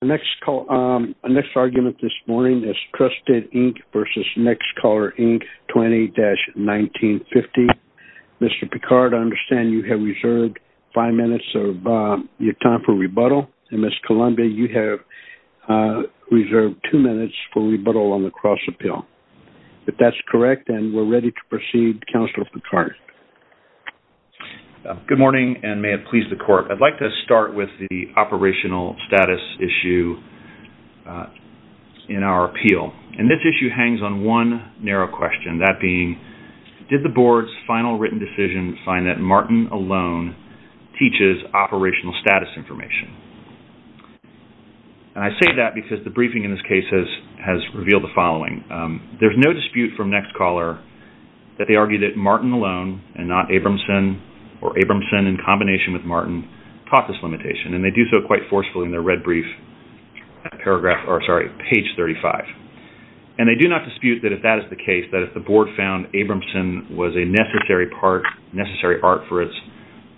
Our next argument this morning is TRUSTID, Inc. v. Next Caller, Inc. 20-1950. Mr. Picard, I understand you have reserved five minutes of your time for rebuttal, and Ms. Columbia, you have reserved two minutes for rebuttal on the cross-appeal. If that's correct, then we're ready to proceed. Counselor Picard. Good morning, and may it please the Court. I'd like to start with the operational status issue in our appeal. And this issue hangs on one narrow question, that being, did the Board's final written decision find that Martin alone teaches operational status information? And I say that because the briefing in this case has revealed the following. There's no dispute from Next Caller that they argue that Martin alone, and not Abramson, or Abramson in combination with Martin, taught this limitation. And they do so quite forcefully in their red brief at page 35. And they do not dispute that if that is the case, that if the Board found Abramson was a necessary part, necessary art for its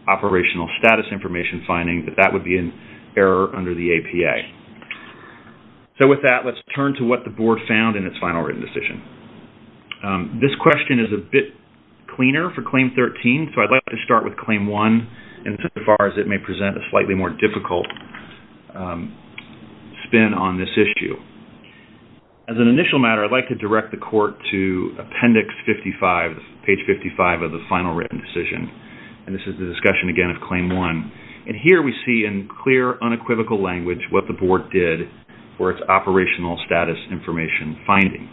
operational status information finding, that that would be an error under the APA. So with that, let's turn to what the Board found in its final written decision. This question is a bit cleaner for Claim 13, so I'd like to start with Claim 1, insofar as it may present a slightly more difficult spin on this issue. As an initial matter, I'd like to direct the Court to appendix 55, page 55 of the final written decision. And this is the discussion again of Claim 1. And here we see in clear, unequivocal language what the Board did for its operational status information finding.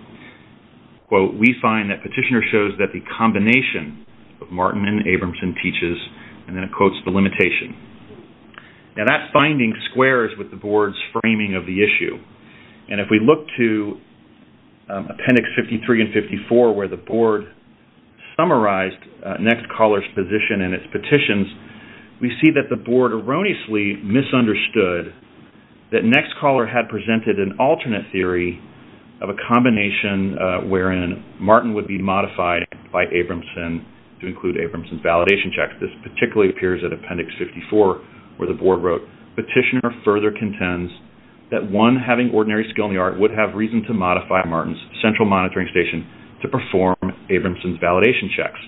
Quote, we find that Petitioner shows that the combination of Martin and Abramson teaches, and then it quotes the limitation. Now that finding squares with the Board's framing of the issue. And if we look to appendix 53 and 54, where the Board summarized Next Caller's position and its petitions, we see that the Board erroneously misunderstood that Next Caller had presented an alternate theory of a combination wherein Martin would be modified by Abramson to include Abramson's validation checks. This particularly appears in appendix 54, where the Board wrote, Petitioner further contends that one having ordinary skill in the art would have reason to modify Martin's central monitoring station to perform Abramson's validation checks.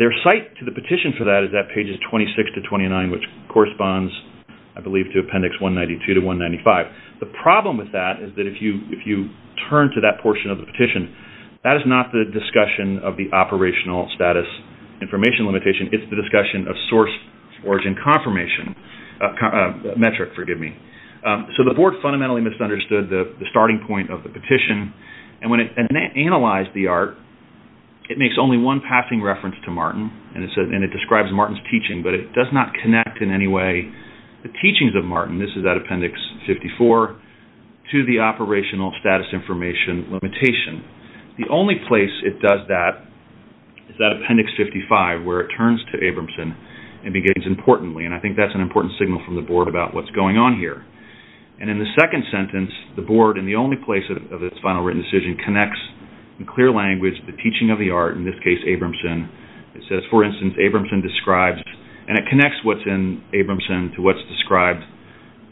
Their cite to the petition for that is at pages 26 to 29, which corresponds I believe to appendix 192 to 195. The problem with that is that if you turn to that portion of the petition, that is not the discussion of the operational status information limitation. It's the discussion of source origin confirmation metric. So the Board fundamentally misunderstood the starting point of the petition. And when it analyzed the art, it makes only one passing reference to Martin, and it describes Martin's teaching, but it does not connect in any way the teachings of Martin, this is at appendix 54, to the operational status information limitation. The only place it does that is at appendix 55, where it turns to Abramson and begins, importantly, and I think that's an important signal from the Board about what's going on here. And in the second sentence, the Board, in the only place of its final written decision, connects in clear language the teaching of the art, in this case Abramson. It says, for instance, Abramson describes, and it connects what's in Abramson to what's described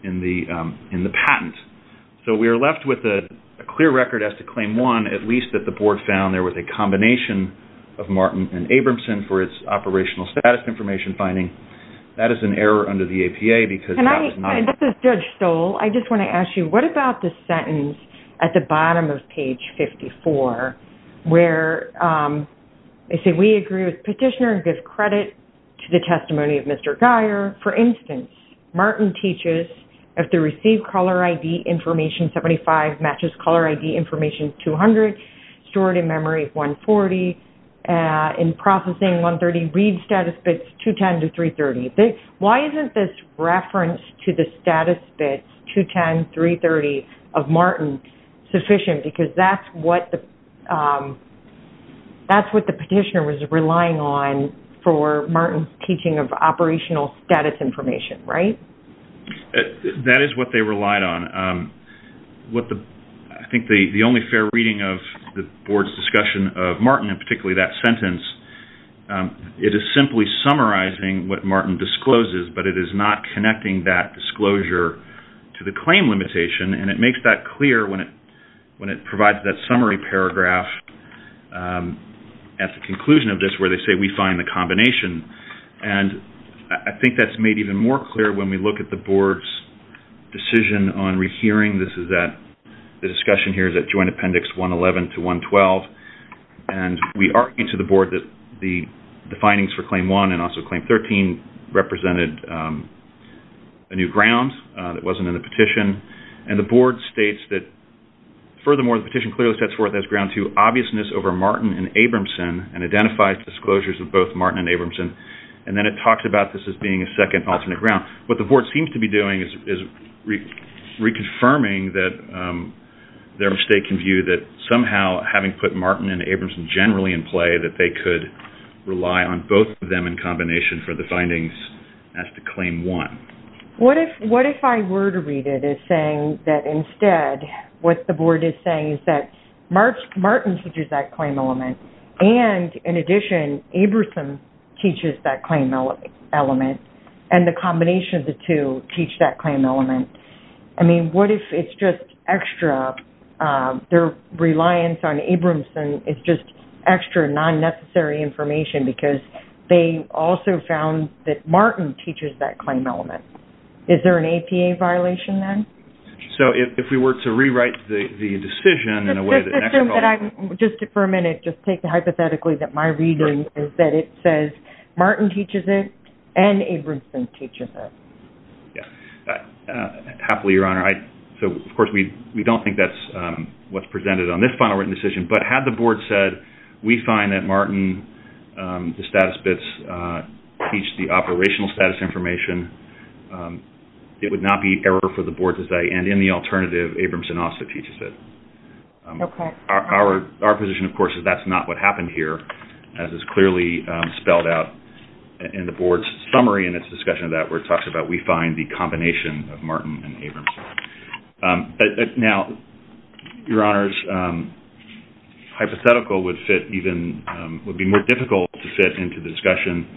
in the patent. So we are left with a clear record as to claim one, at least that the Board found there was a combination of Martin and Abramson for its operational status information finding. That is an error under the APA because that is not... This is Judge Stoll. I just want to ask you, what about the sentence at the bottom of page 54, where they say, we agree with petitioner and give credit to the testimony of Mr. Geyer. For instance, Martin teaches, if the received caller ID information 75 matches caller ID information 200, stored in memory 140, in processing 130, read status bits 210 to 330. Why isn't this reference to the status bits 210, 330 of Martin sufficient? Because that's what the petitioner was relying on for Martin's teaching of operational status information, right? That is what they relied on. I think the only fair reading of the Board's discussion of Martin, and particularly that sentence, it is simply summarizing what Martin discloses, but it is not connecting that disclosure to the claim limitation. And it makes that clear when it provides that summary paragraph at the conclusion of this, where they say, we find the combination. And I think that's made even more clear when we look at the Board's decision on rehearing. This is at, the discussion here is at Joint Appendix 111 to 112. And we argued to the Board that the findings for Claim 1 and also Claim 13 represented a new ground that wasn't in the petition. And the Board states that, furthermore, the petition clearly sets forth as ground to obviousness over Martin and Abramson and identifies disclosures of both Martin and Abramson. And then it talks about this as being a second alternate ground. What the Board seems to be doing is reconfirming their mistaken view that, somehow, having put Martin and Abramson generally in play, that they could rely on both of them in combination for the findings as to Claim 1. What if I were to read it as saying that, instead, what the Board is saying is that Martin teaches that claim element and, in addition, Abramson teaches that claim element and the combination of the two teach that claim element. I mean, what if it's just extra, their reliance on Abramson is just extra non-necessary information because they also found that Martin teaches that claim element. Is there an APA violation, then? So, if we were to rewrite the decision in a way that... Just for a minute, just take it hypothetically that my reading is that it says Martin teaches it and Abramson teaches it. Happily, Your Honor. So, of course, we don't think that's what's presented on this final written decision. But had the Board said, we find that Martin, the status bits, teach the operational status information, it would not be error for the Board to say, and in the alternative, Abramson also teaches it. Our position, of course, is that's not what happened here, as is clearly spelled out in the Board's summary and its discussion of that where it talks about, we find the combination of Martin and Abramson. Now, Your Honors, hypothetical would be more difficult to fit into the discussion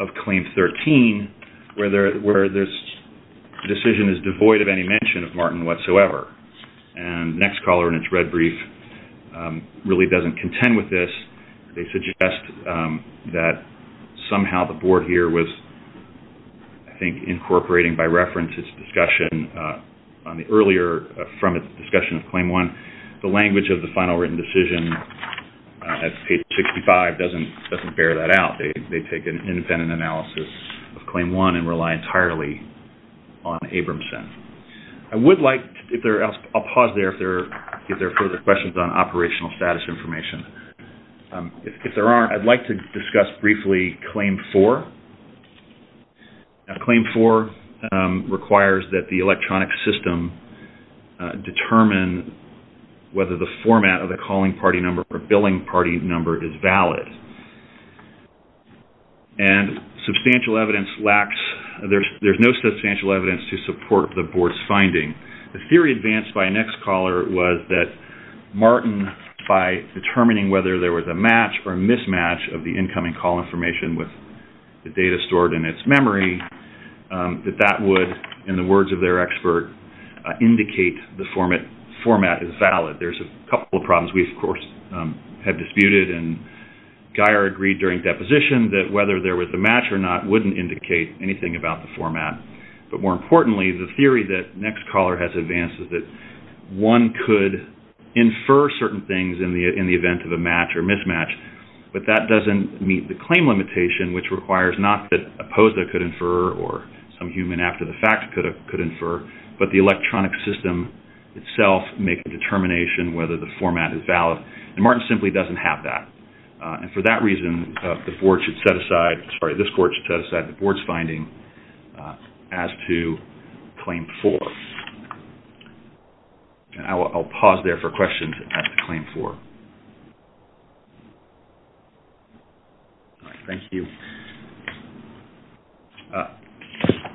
of Claim 13, where this decision is devoid of any mention of Martin whatsoever. And Nextcaller, in its red brief, really doesn't contend with this. They suggest that somehow the Board here was, I think, incorporating by reference its discussion earlier from its discussion of Claim 1. The language of the final written decision at page 65 doesn't bear that out. They take an independent analysis of Claim 1 and rely entirely on Abramson. I would like, I'll pause there if there are further questions on operational status information. If there aren't, I'd like to discuss briefly Claim 4. Now, Claim 4 requires that the electronic system determine whether the format of the calling party number or billing party number is valid. And substantial evidence lacks, there's no substantial evidence to support the Board's finding. The theory advanced by Nextcaller was that Martin, by determining whether there was a match or mismatch of the incoming call information with the data stored in its memory, that that would, in the words of their expert, indicate the format is valid. There's a couple of problems we, of course, have disputed. And Geier agreed during deposition that whether there was a match or not wouldn't indicate anything about the format. But more importantly, the theory that Nextcaller has advanced is that one could infer certain things in the event of a match or mismatch, but that doesn't meet the claim limitation, which requires not that a POSDA could infer or some human after the fact could infer, but the electronic system itself make a determination whether the format is valid. And Martin simply doesn't have that. And for that reason, the Board should set aside, sorry, this Board should set aside the Board's finding as to Claim 4. I'll pause there for questions as to Claim 4. Thank you.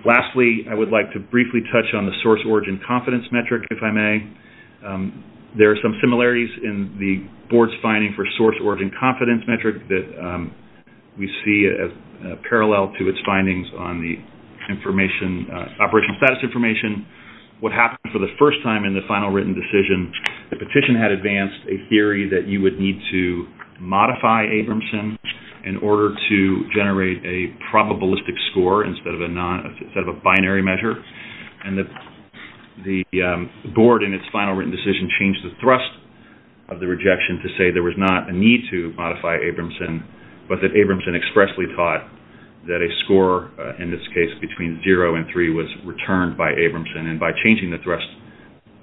Lastly, I would like to briefly touch on the source origin confidence metric, if I may. There are some similarities in the Board's finding for source origin confidence metric that we see as parallel to its findings on the information, operational status information. What happened for the first time in the final written decision, the petition had advanced a theory that you would need to modify Abramson in order to generate a probabilistic score instead of a binary measure. And the Board, in its final written decision, changed the thrust of the rejection to say there was not a need to modify Abramson, but that Abramson expressly taught that a score, in this case between 0 and 3, was returned by Abramson. And by changing the thrust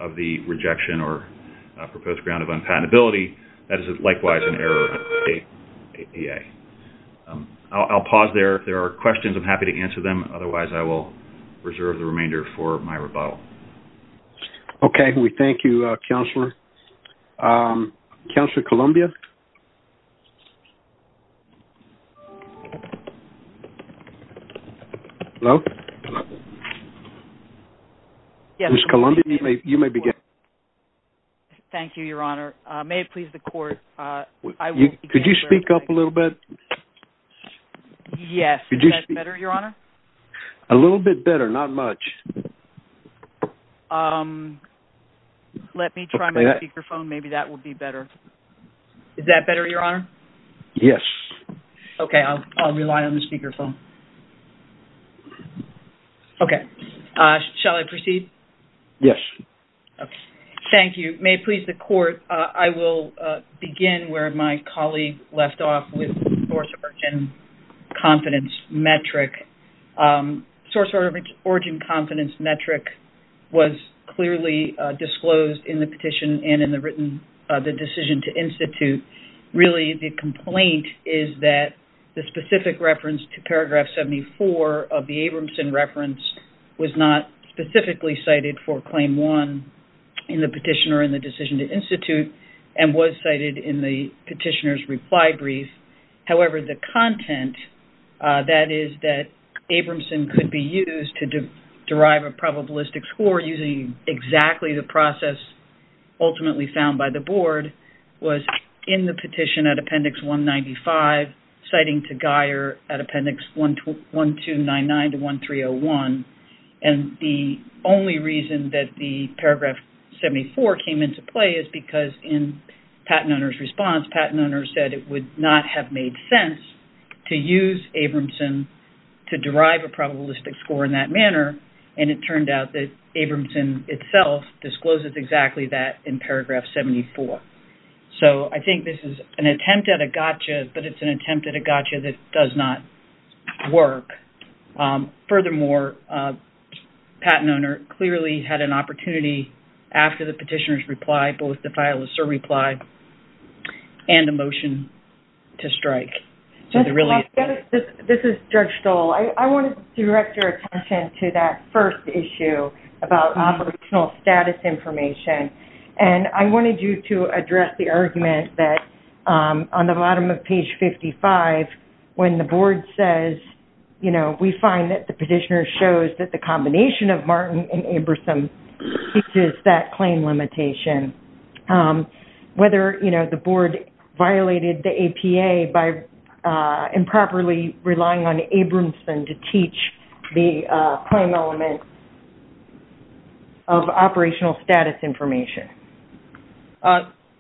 of the rejection or proposed ground of unpatentability, that is likewise an error. I'll pause there. If there are questions, I'm happy to answer them. Otherwise, I will reserve the remainder for my rebuttal. Okay. We thank you, Counselor. Counselor Columbia? Hello? Ms. Columbia, you may begin. Thank you, Your Honor. May it please the Court, I will begin. Could you speak up a little bit? Yes. Is that better, Your Honor? A little bit better, not much. Let me try my speakerphone. Maybe that will be better. Is that better, Your Honor? Yes. Okay. I'll rely on the speakerphone. Okay. Shall I proceed? Yes. Okay. Thank you. May it please the Court, I will begin where my colleague left off with source origin confidence metric. Source origin confidence metric was clearly disclosed in the petition and in the written decision to institute. Really, the complaint is that the specific reference to paragraph 74 of the Abramson reference was not specifically cited for claim one in the petition or in the decision to institute and was cited in the petitioner's reply brief. However, the content, that is, that Abramson could be used to derive a probabilistic score using exactly the process ultimately found by the Board, was in the petition at Appendix 195, citing to Guyer at Appendix 1299 to 1301. And the only reason that the paragraph 74 came into play is because in patent owner's response, patent owner said it would not have made sense to use Abramson to derive a probabilistic score in that manner, and it turned out that Abramson itself discloses exactly that in paragraph 74. So, I think this is an attempt at a gotcha, but it's an attempt at a gotcha that does not work. Furthermore, patent owner clearly had an opportunity after the petitioner's reply, for example, with the file of Sir replied, and a motion to strike. This is Judge Stoll. I want to direct your attention to that first issue about operational status information, and I wanted you to address the argument that on the bottom of page 55, when the Board says, we find that the petitioner shows that the combination of Martin and Abramson teaches that claim limitation. Whether the Board violated the APA by improperly relying on Abramson to teach the claim element of operational status information.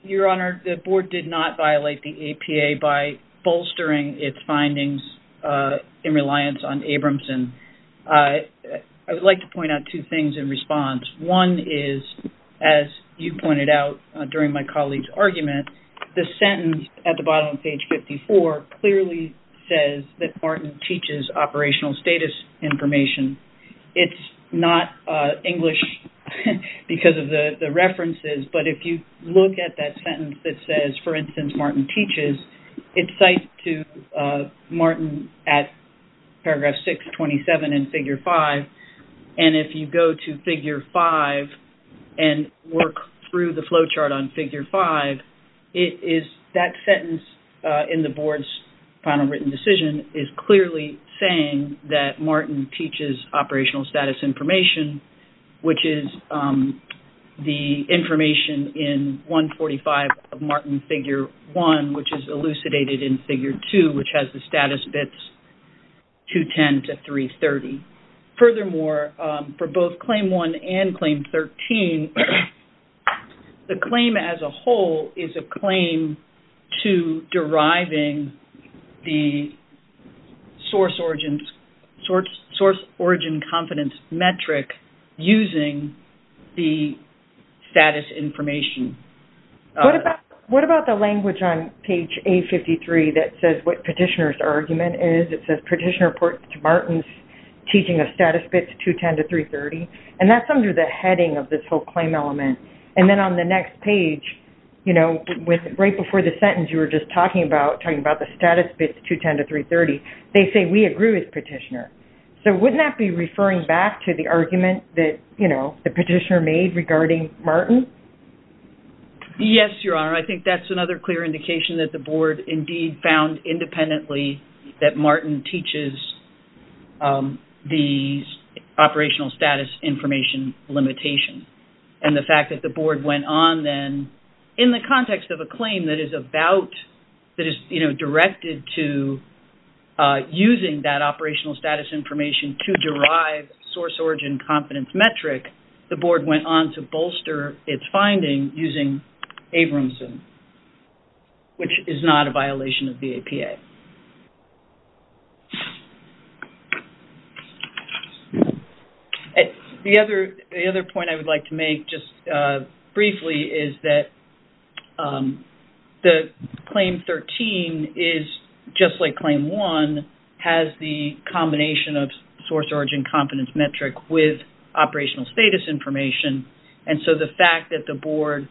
Your Honor, the Board did not violate the APA by bolstering its findings in reliance on Abramson. I would like to point out two things in response. One is, as you pointed out during my colleague's argument, the sentence at the bottom of page 54 clearly says that Martin teaches operational status information. It's not English because of the references, but if you look at that sentence that says, for instance, Martin teaches, it cites to Martin at paragraph 627 in figure 5, and if you go to figure 5 and work through the flowchart on figure 5, that sentence in the Board's final written decision is clearly saying that Martin teaches operational status information, which is the information in 145 of Martin figure 1, which is elucidated in figure 2, which has the status bits 210 to 330. Furthermore, for both claim 1 and claim 13, the claim as a whole is a claim to deriving the source origin confidence metric using the status information. What about the language on page 853 that says what petitioner's argument is? It says petitioner reports to Martin's teaching of status bits 210 to 330, and that's under the heading of this whole claim element. And then on the next page, right before the sentence you were just talking about, talking about the status bits 210 to 330, they say, we agree with petitioner. So wouldn't that be referring back to the argument that the petitioner made regarding Martin? Yes, Your Honor, I think that's another clear indication that the Board indeed found independently that Martin teaches the operational status information limitation. And the fact that the Board went on then, in the context of a claim that is about, that is directed to using that operational status information to derive source origin confidence metric, the Board went on to bolster its finding using Abramson, which is not a violation of the APA. The other point I would like to make just briefly is that the claim 13 is just like claim 1, Abramson has the combination of source origin confidence metric with operational status information, and so the fact that the Board,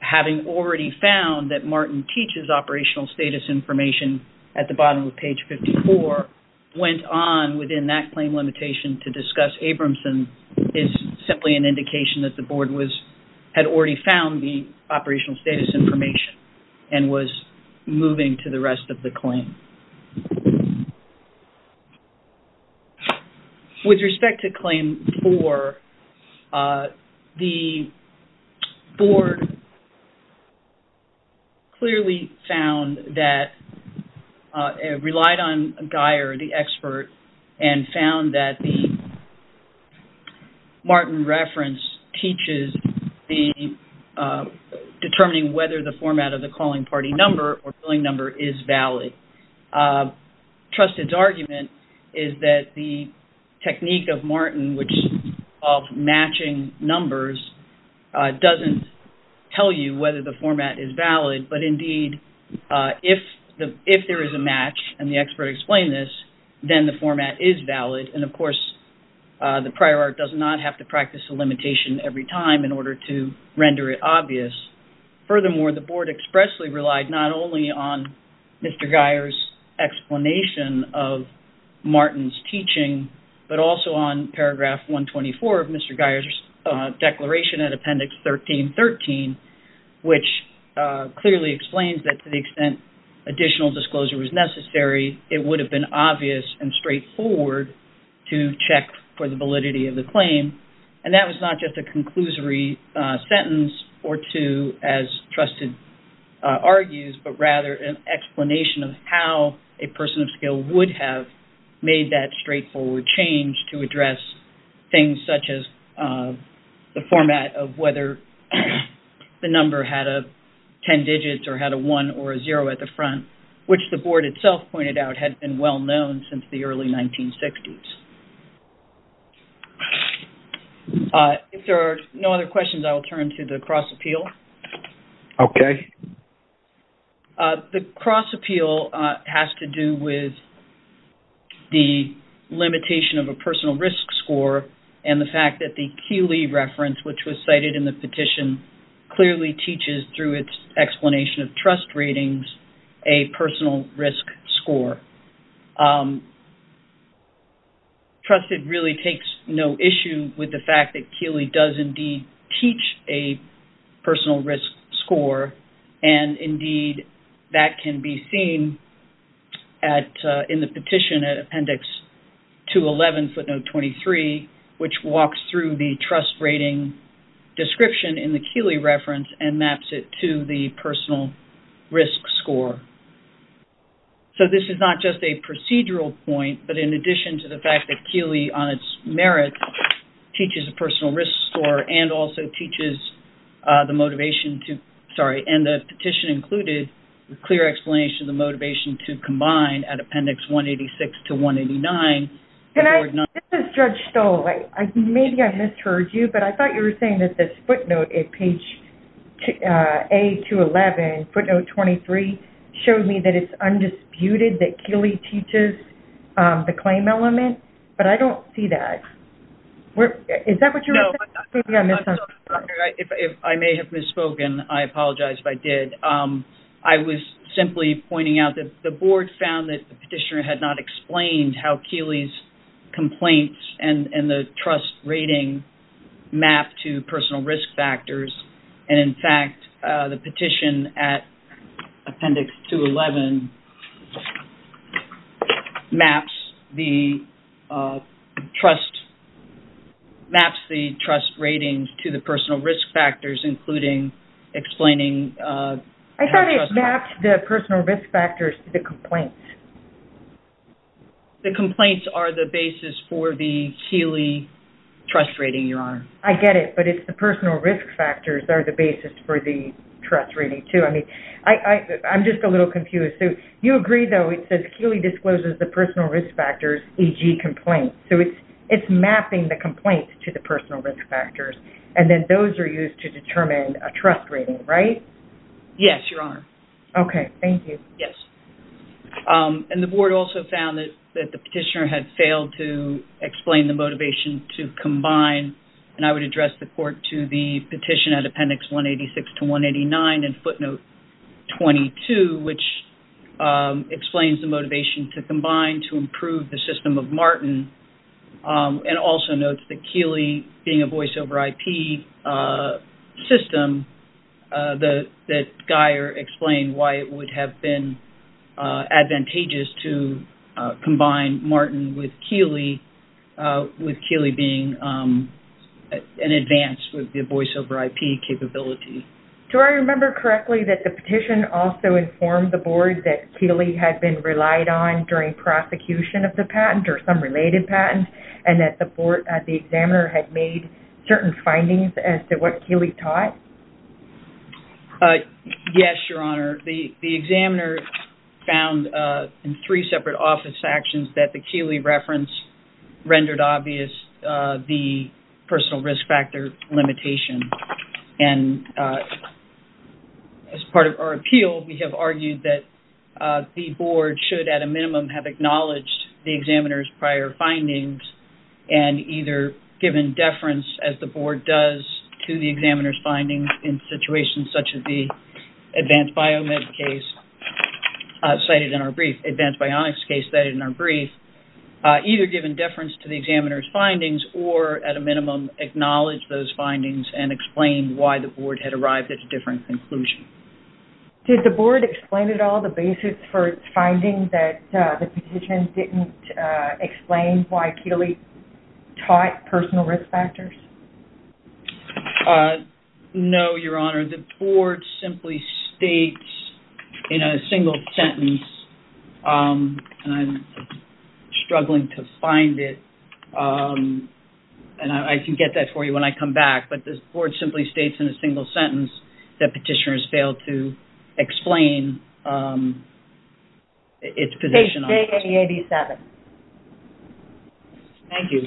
having already found that Martin teaches operational status information at the bottom of page 54, went on within that claim limitation to discuss Abramson, is simply an indication that the Board had already found the operational status information and was moving to the rest of the claim. With respect to claim 4, the Board clearly found that, relied on Guyer, the expert, and found that the Martin reference teaches determining whether the format of the calling party number or billing number is valid. Trusted's argument is that the technique of Martin, which is called matching numbers, doesn't tell you whether the format is valid, but indeed, if there is a match, and the expert explained this, then the format is valid, and of course, the prior art does not have to practice the limitation every time in order to render it obvious. Furthermore, the Board expressly relied not only on Mr. Guyer's explanation of Martin's teaching, but also on paragraph 124 of Mr. Guyer's declaration at appendix 13.13, which clearly explains that to the extent additional disclosure was necessary, it would have been obvious and straightforward to check for the validity of the claim, and that was not just a conclusory sentence or two, as Trusted argues, but rather an explanation of how a person of skill would have made that straightforward change to address things such as the format of whether the number had a 10 digits or had a 1 or a 0 at the front, which the Board itself pointed out had been well-known since the early 1960s. If there are no other questions, I will turn to the cross-appeal. Okay. The cross-appeal has to do with the limitation of a personal risk score and the fact that the Keeley reference, which was cited in the petition, clearly teaches through its explanation of trust ratings a personal risk score. Trusted really takes no issue with the fact that Keeley does indeed teach a personal risk score, and indeed that can be seen in the petition at appendix 211, footnote 23, which walks through the trust rating description in the Keeley reference and maps it to the personal risk score. So this is not just a procedural point, but in addition to the fact that Keeley on its merits teaches a personal risk score and also teaches the motivation to, sorry, and the petition included a clear explanation of the motivation to combine at appendix 186 to 189. This is Judge Stoll. Maybe I misheard you, but I thought you were saying that this footnote at page A211, footnote 23, showed me that it's undisputed that Keeley teaches the claim element, but I don't see that. Is that what you were saying? No, I'm sorry. I may have misspoken. I apologize if I did. I was simply pointing out that the board found that the petitioner had not explained how Keeley's complaints and the trust rating map to personal risk factors, and in fact, the petition at appendix 211 maps the trust ratings to the personal risk factors, including explaining... I thought it mapped the personal risk factors to the complaints. The complaints are the basis for the Keeley trust rating, Your Honor. I get it, but it's the personal risk factors are the basis for the trust rating, too. I'm just a little confused. You agree, though, it says Keeley discloses the personal risk factors, e.g., complaints, so it's mapping the complaints to the personal risk factors, and then those are used to determine a trust rating, right? Yes, Your Honor. Okay. Thank you. Yes. And the board also found that the petitioner had failed to explain the motivation to combine, and I would address the court to the petition at appendix 186 to 189 in footnote 22, which explains the motivation to combine to improve the system of Martin and also notes that Keeley, being a voice over IP system, that Guyer explained why it would have been advantageous to combine Martin with Keeley, with Keeley being an advance with the voice over IP capability. Do I remember correctly that the petition also informed the board that Keeley had been relied on during prosecution of the patent or some related patent and that the examiner had made certain findings as to what Keeley taught? Yes, Your Honor. The examiner found in three separate office actions that the Keeley reference rendered obvious the personal risk factor limitation, and as part of our appeal, we have argued that the board should, at a minimum, have acknowledged the examiner's prior findings and either given deference, as the board does to the examiner's findings in situations such as the advanced biomed case cited in our brief, advanced bionics case cited in our brief, either given deference to the examiner's findings or, at a minimum, acknowledge those findings and explain why the board had arrived at a different conclusion. Did the board explain at all the basis for its findings that the petition didn't explain why Keeley taught personal risk factors? No, Your Honor. The board simply states in a single sentence, and I'm struggling to find it, and I can get that for you when I come back, but the board simply states in a single sentence that petitioners failed to explain its position. Take page 87. Thank you.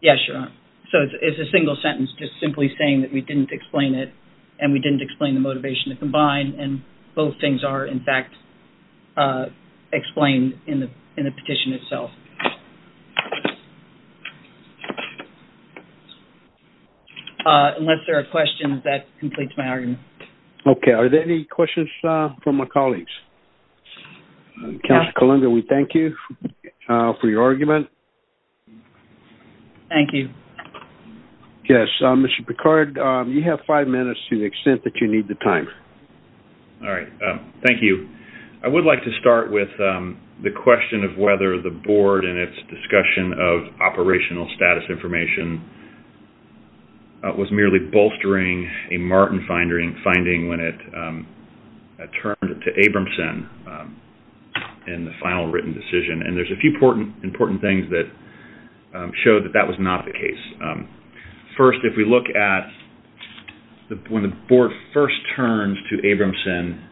Yes, Your Honor. So it's a single sentence just simply saying that we didn't explain it and we didn't explain the motivation to combine, and both things are, in fact, explained in the petition itself. Unless there are questions, that completes my argument. Okay. Are there any questions from my colleagues? Counselor Columba, we thank you for your argument. Thank you. Yes. Mr. Picard, you have five minutes to the extent that you need the time. All right. Thank you. I would like to start with the question of whether the board and its discussion of operational status information was merely bolstering a Martin finding when it turned to Abramson in the final written decision, and there's a few important things that show that that was not the case. First, if we look at when the board first turns to Abramson,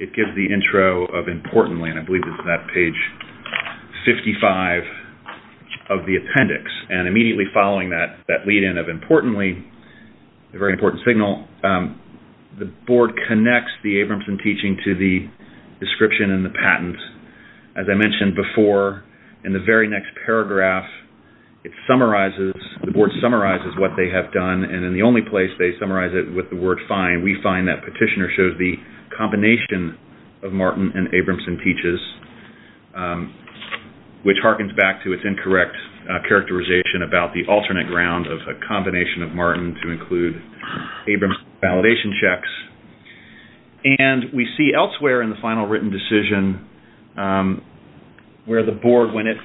it gives the intro of Importantly, and I believe it's that page 55 of the appendix, and immediately following that lead-in of Importantly, a very important signal, the board connects the Abramson teaching to the description in the patent. As I mentioned before, in the very next paragraph, it summarizes, the board summarizes what they have done, and in the only place they summarize it with the word find, we find that petitioner shows the combination of Martin and Abramson teaches, which harkens back to its incorrect characterization about the alternate ground of a combination of Martin to include Abramson validation checks. And we see elsewhere in the final written decision where the board, when it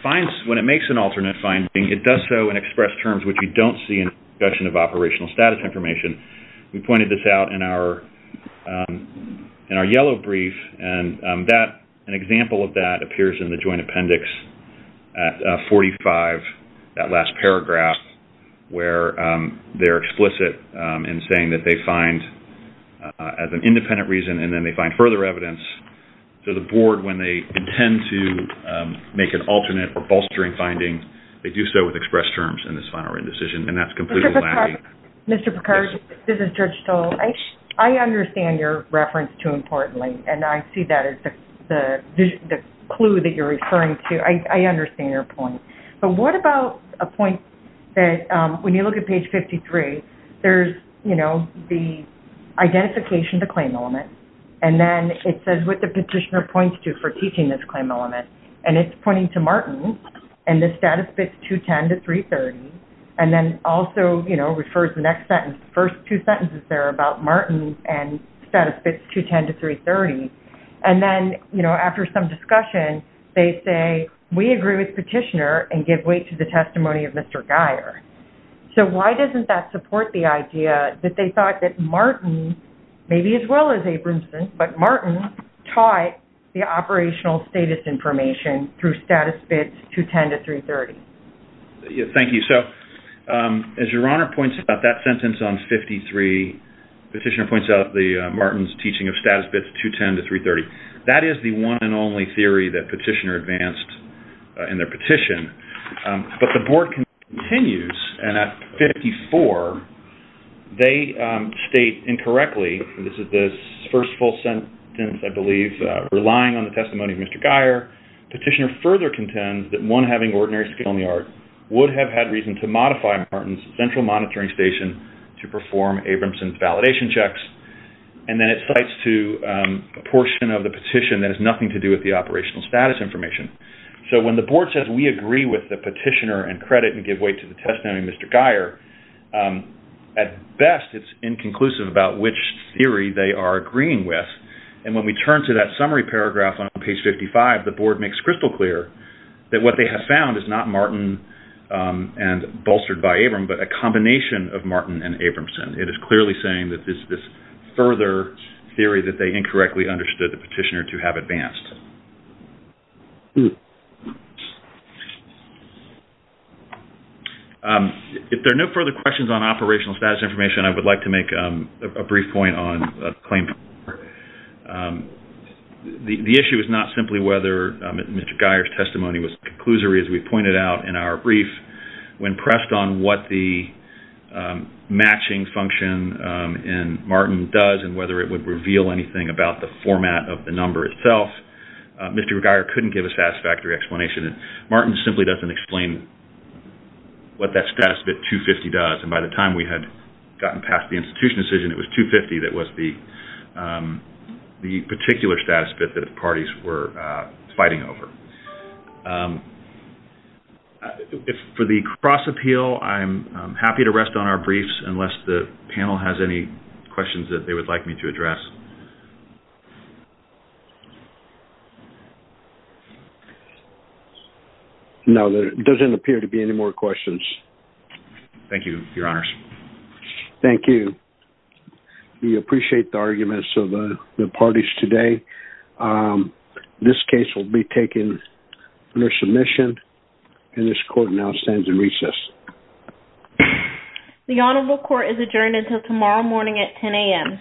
makes an alternate finding, it does so in express terms, which we don't see in the discussion of operational status information. We pointed this out in our yellow brief, and an example of that appears in the joint appendix at 45, that last paragraph, where they're explicit in saying that they find as an independent reason, and then they find further evidence. So the board, when they intend to make an alternate or bolstering finding, they do so with express terms in this final written decision, and that's completely lacking. Mr. Picard, this is Judge Stoll. I understand your reference to Importantly, and I see that as the clue that you're referring to. I understand your point. But what about a point that when you look at page 53, there's, you know, the identification of the claim element, and then it says what the petitioner points to for teaching this claim element, and it's pointing to Martin, and the status fits 210 to 330, and then also, you know, refers the next sentence, the first two sentences there about Martin and status fits 210 to 330, and then, you know, after some discussion, they say, we agree with the petitioner and give weight to the testimony of Mr. Geyer. So why doesn't that support the idea that they thought that Martin, maybe as well as Abramson, but Martin taught the operational status information through status fits 210 to 330? Thank you. So as Your Honor points out, that sentence on 53, the petitioner points out Martin's teaching of status fits 210 to 330. That is the one and only theory that petitioner advanced in their petition. But the board continues, and at 54, they state incorrectly, and this is the first full sentence, I believe, relying on the testimony of Mr. Geyer. Petitioner further contends that one having ordinary skill in the art would have had reason to modify Martin's central monitoring station to perform Abramson's validation checks. And then it slides to a portion of the petition that has nothing to do with the operational status information. So when the board says we agree with the petitioner and credit and give weight to the testimony of Mr. Geyer, at best it's inconclusive about which theory they are agreeing with. And when we turn to that summary paragraph on page 55, the board makes crystal clear that what they have found is not Martin and bolstered by Abram, but a combination of Martin and Abramson. It is clearly saying that it's this further theory that they incorrectly understood the petitioner to have advanced. If there are no further questions on operational status information, I would like to make a brief point on the claim. The issue is not simply whether Mr. Geyer's testimony was conclusory, as we pointed out in our brief. When pressed on what the matching function in Martin does and whether it would reveal anything about the format of the number itself, Mr. Geyer couldn't give a satisfactory explanation. Martin simply doesn't explain what that status bit 250 does. And by the time we had gotten past the institution decision, it was 250 that was the particular status bit that the parties were fighting over. For the cross-appeal, I'm happy to rest on our briefs, unless the panel has any questions that they would like me to address. No, there doesn't appear to be any more questions. Thank you, Your Honors. Thank you. We appreciate the arguments of the parties today. This case will be taken under submission, and this court now stands in recess. The Honorable Court is adjourned until tomorrow morning at 10 a.m.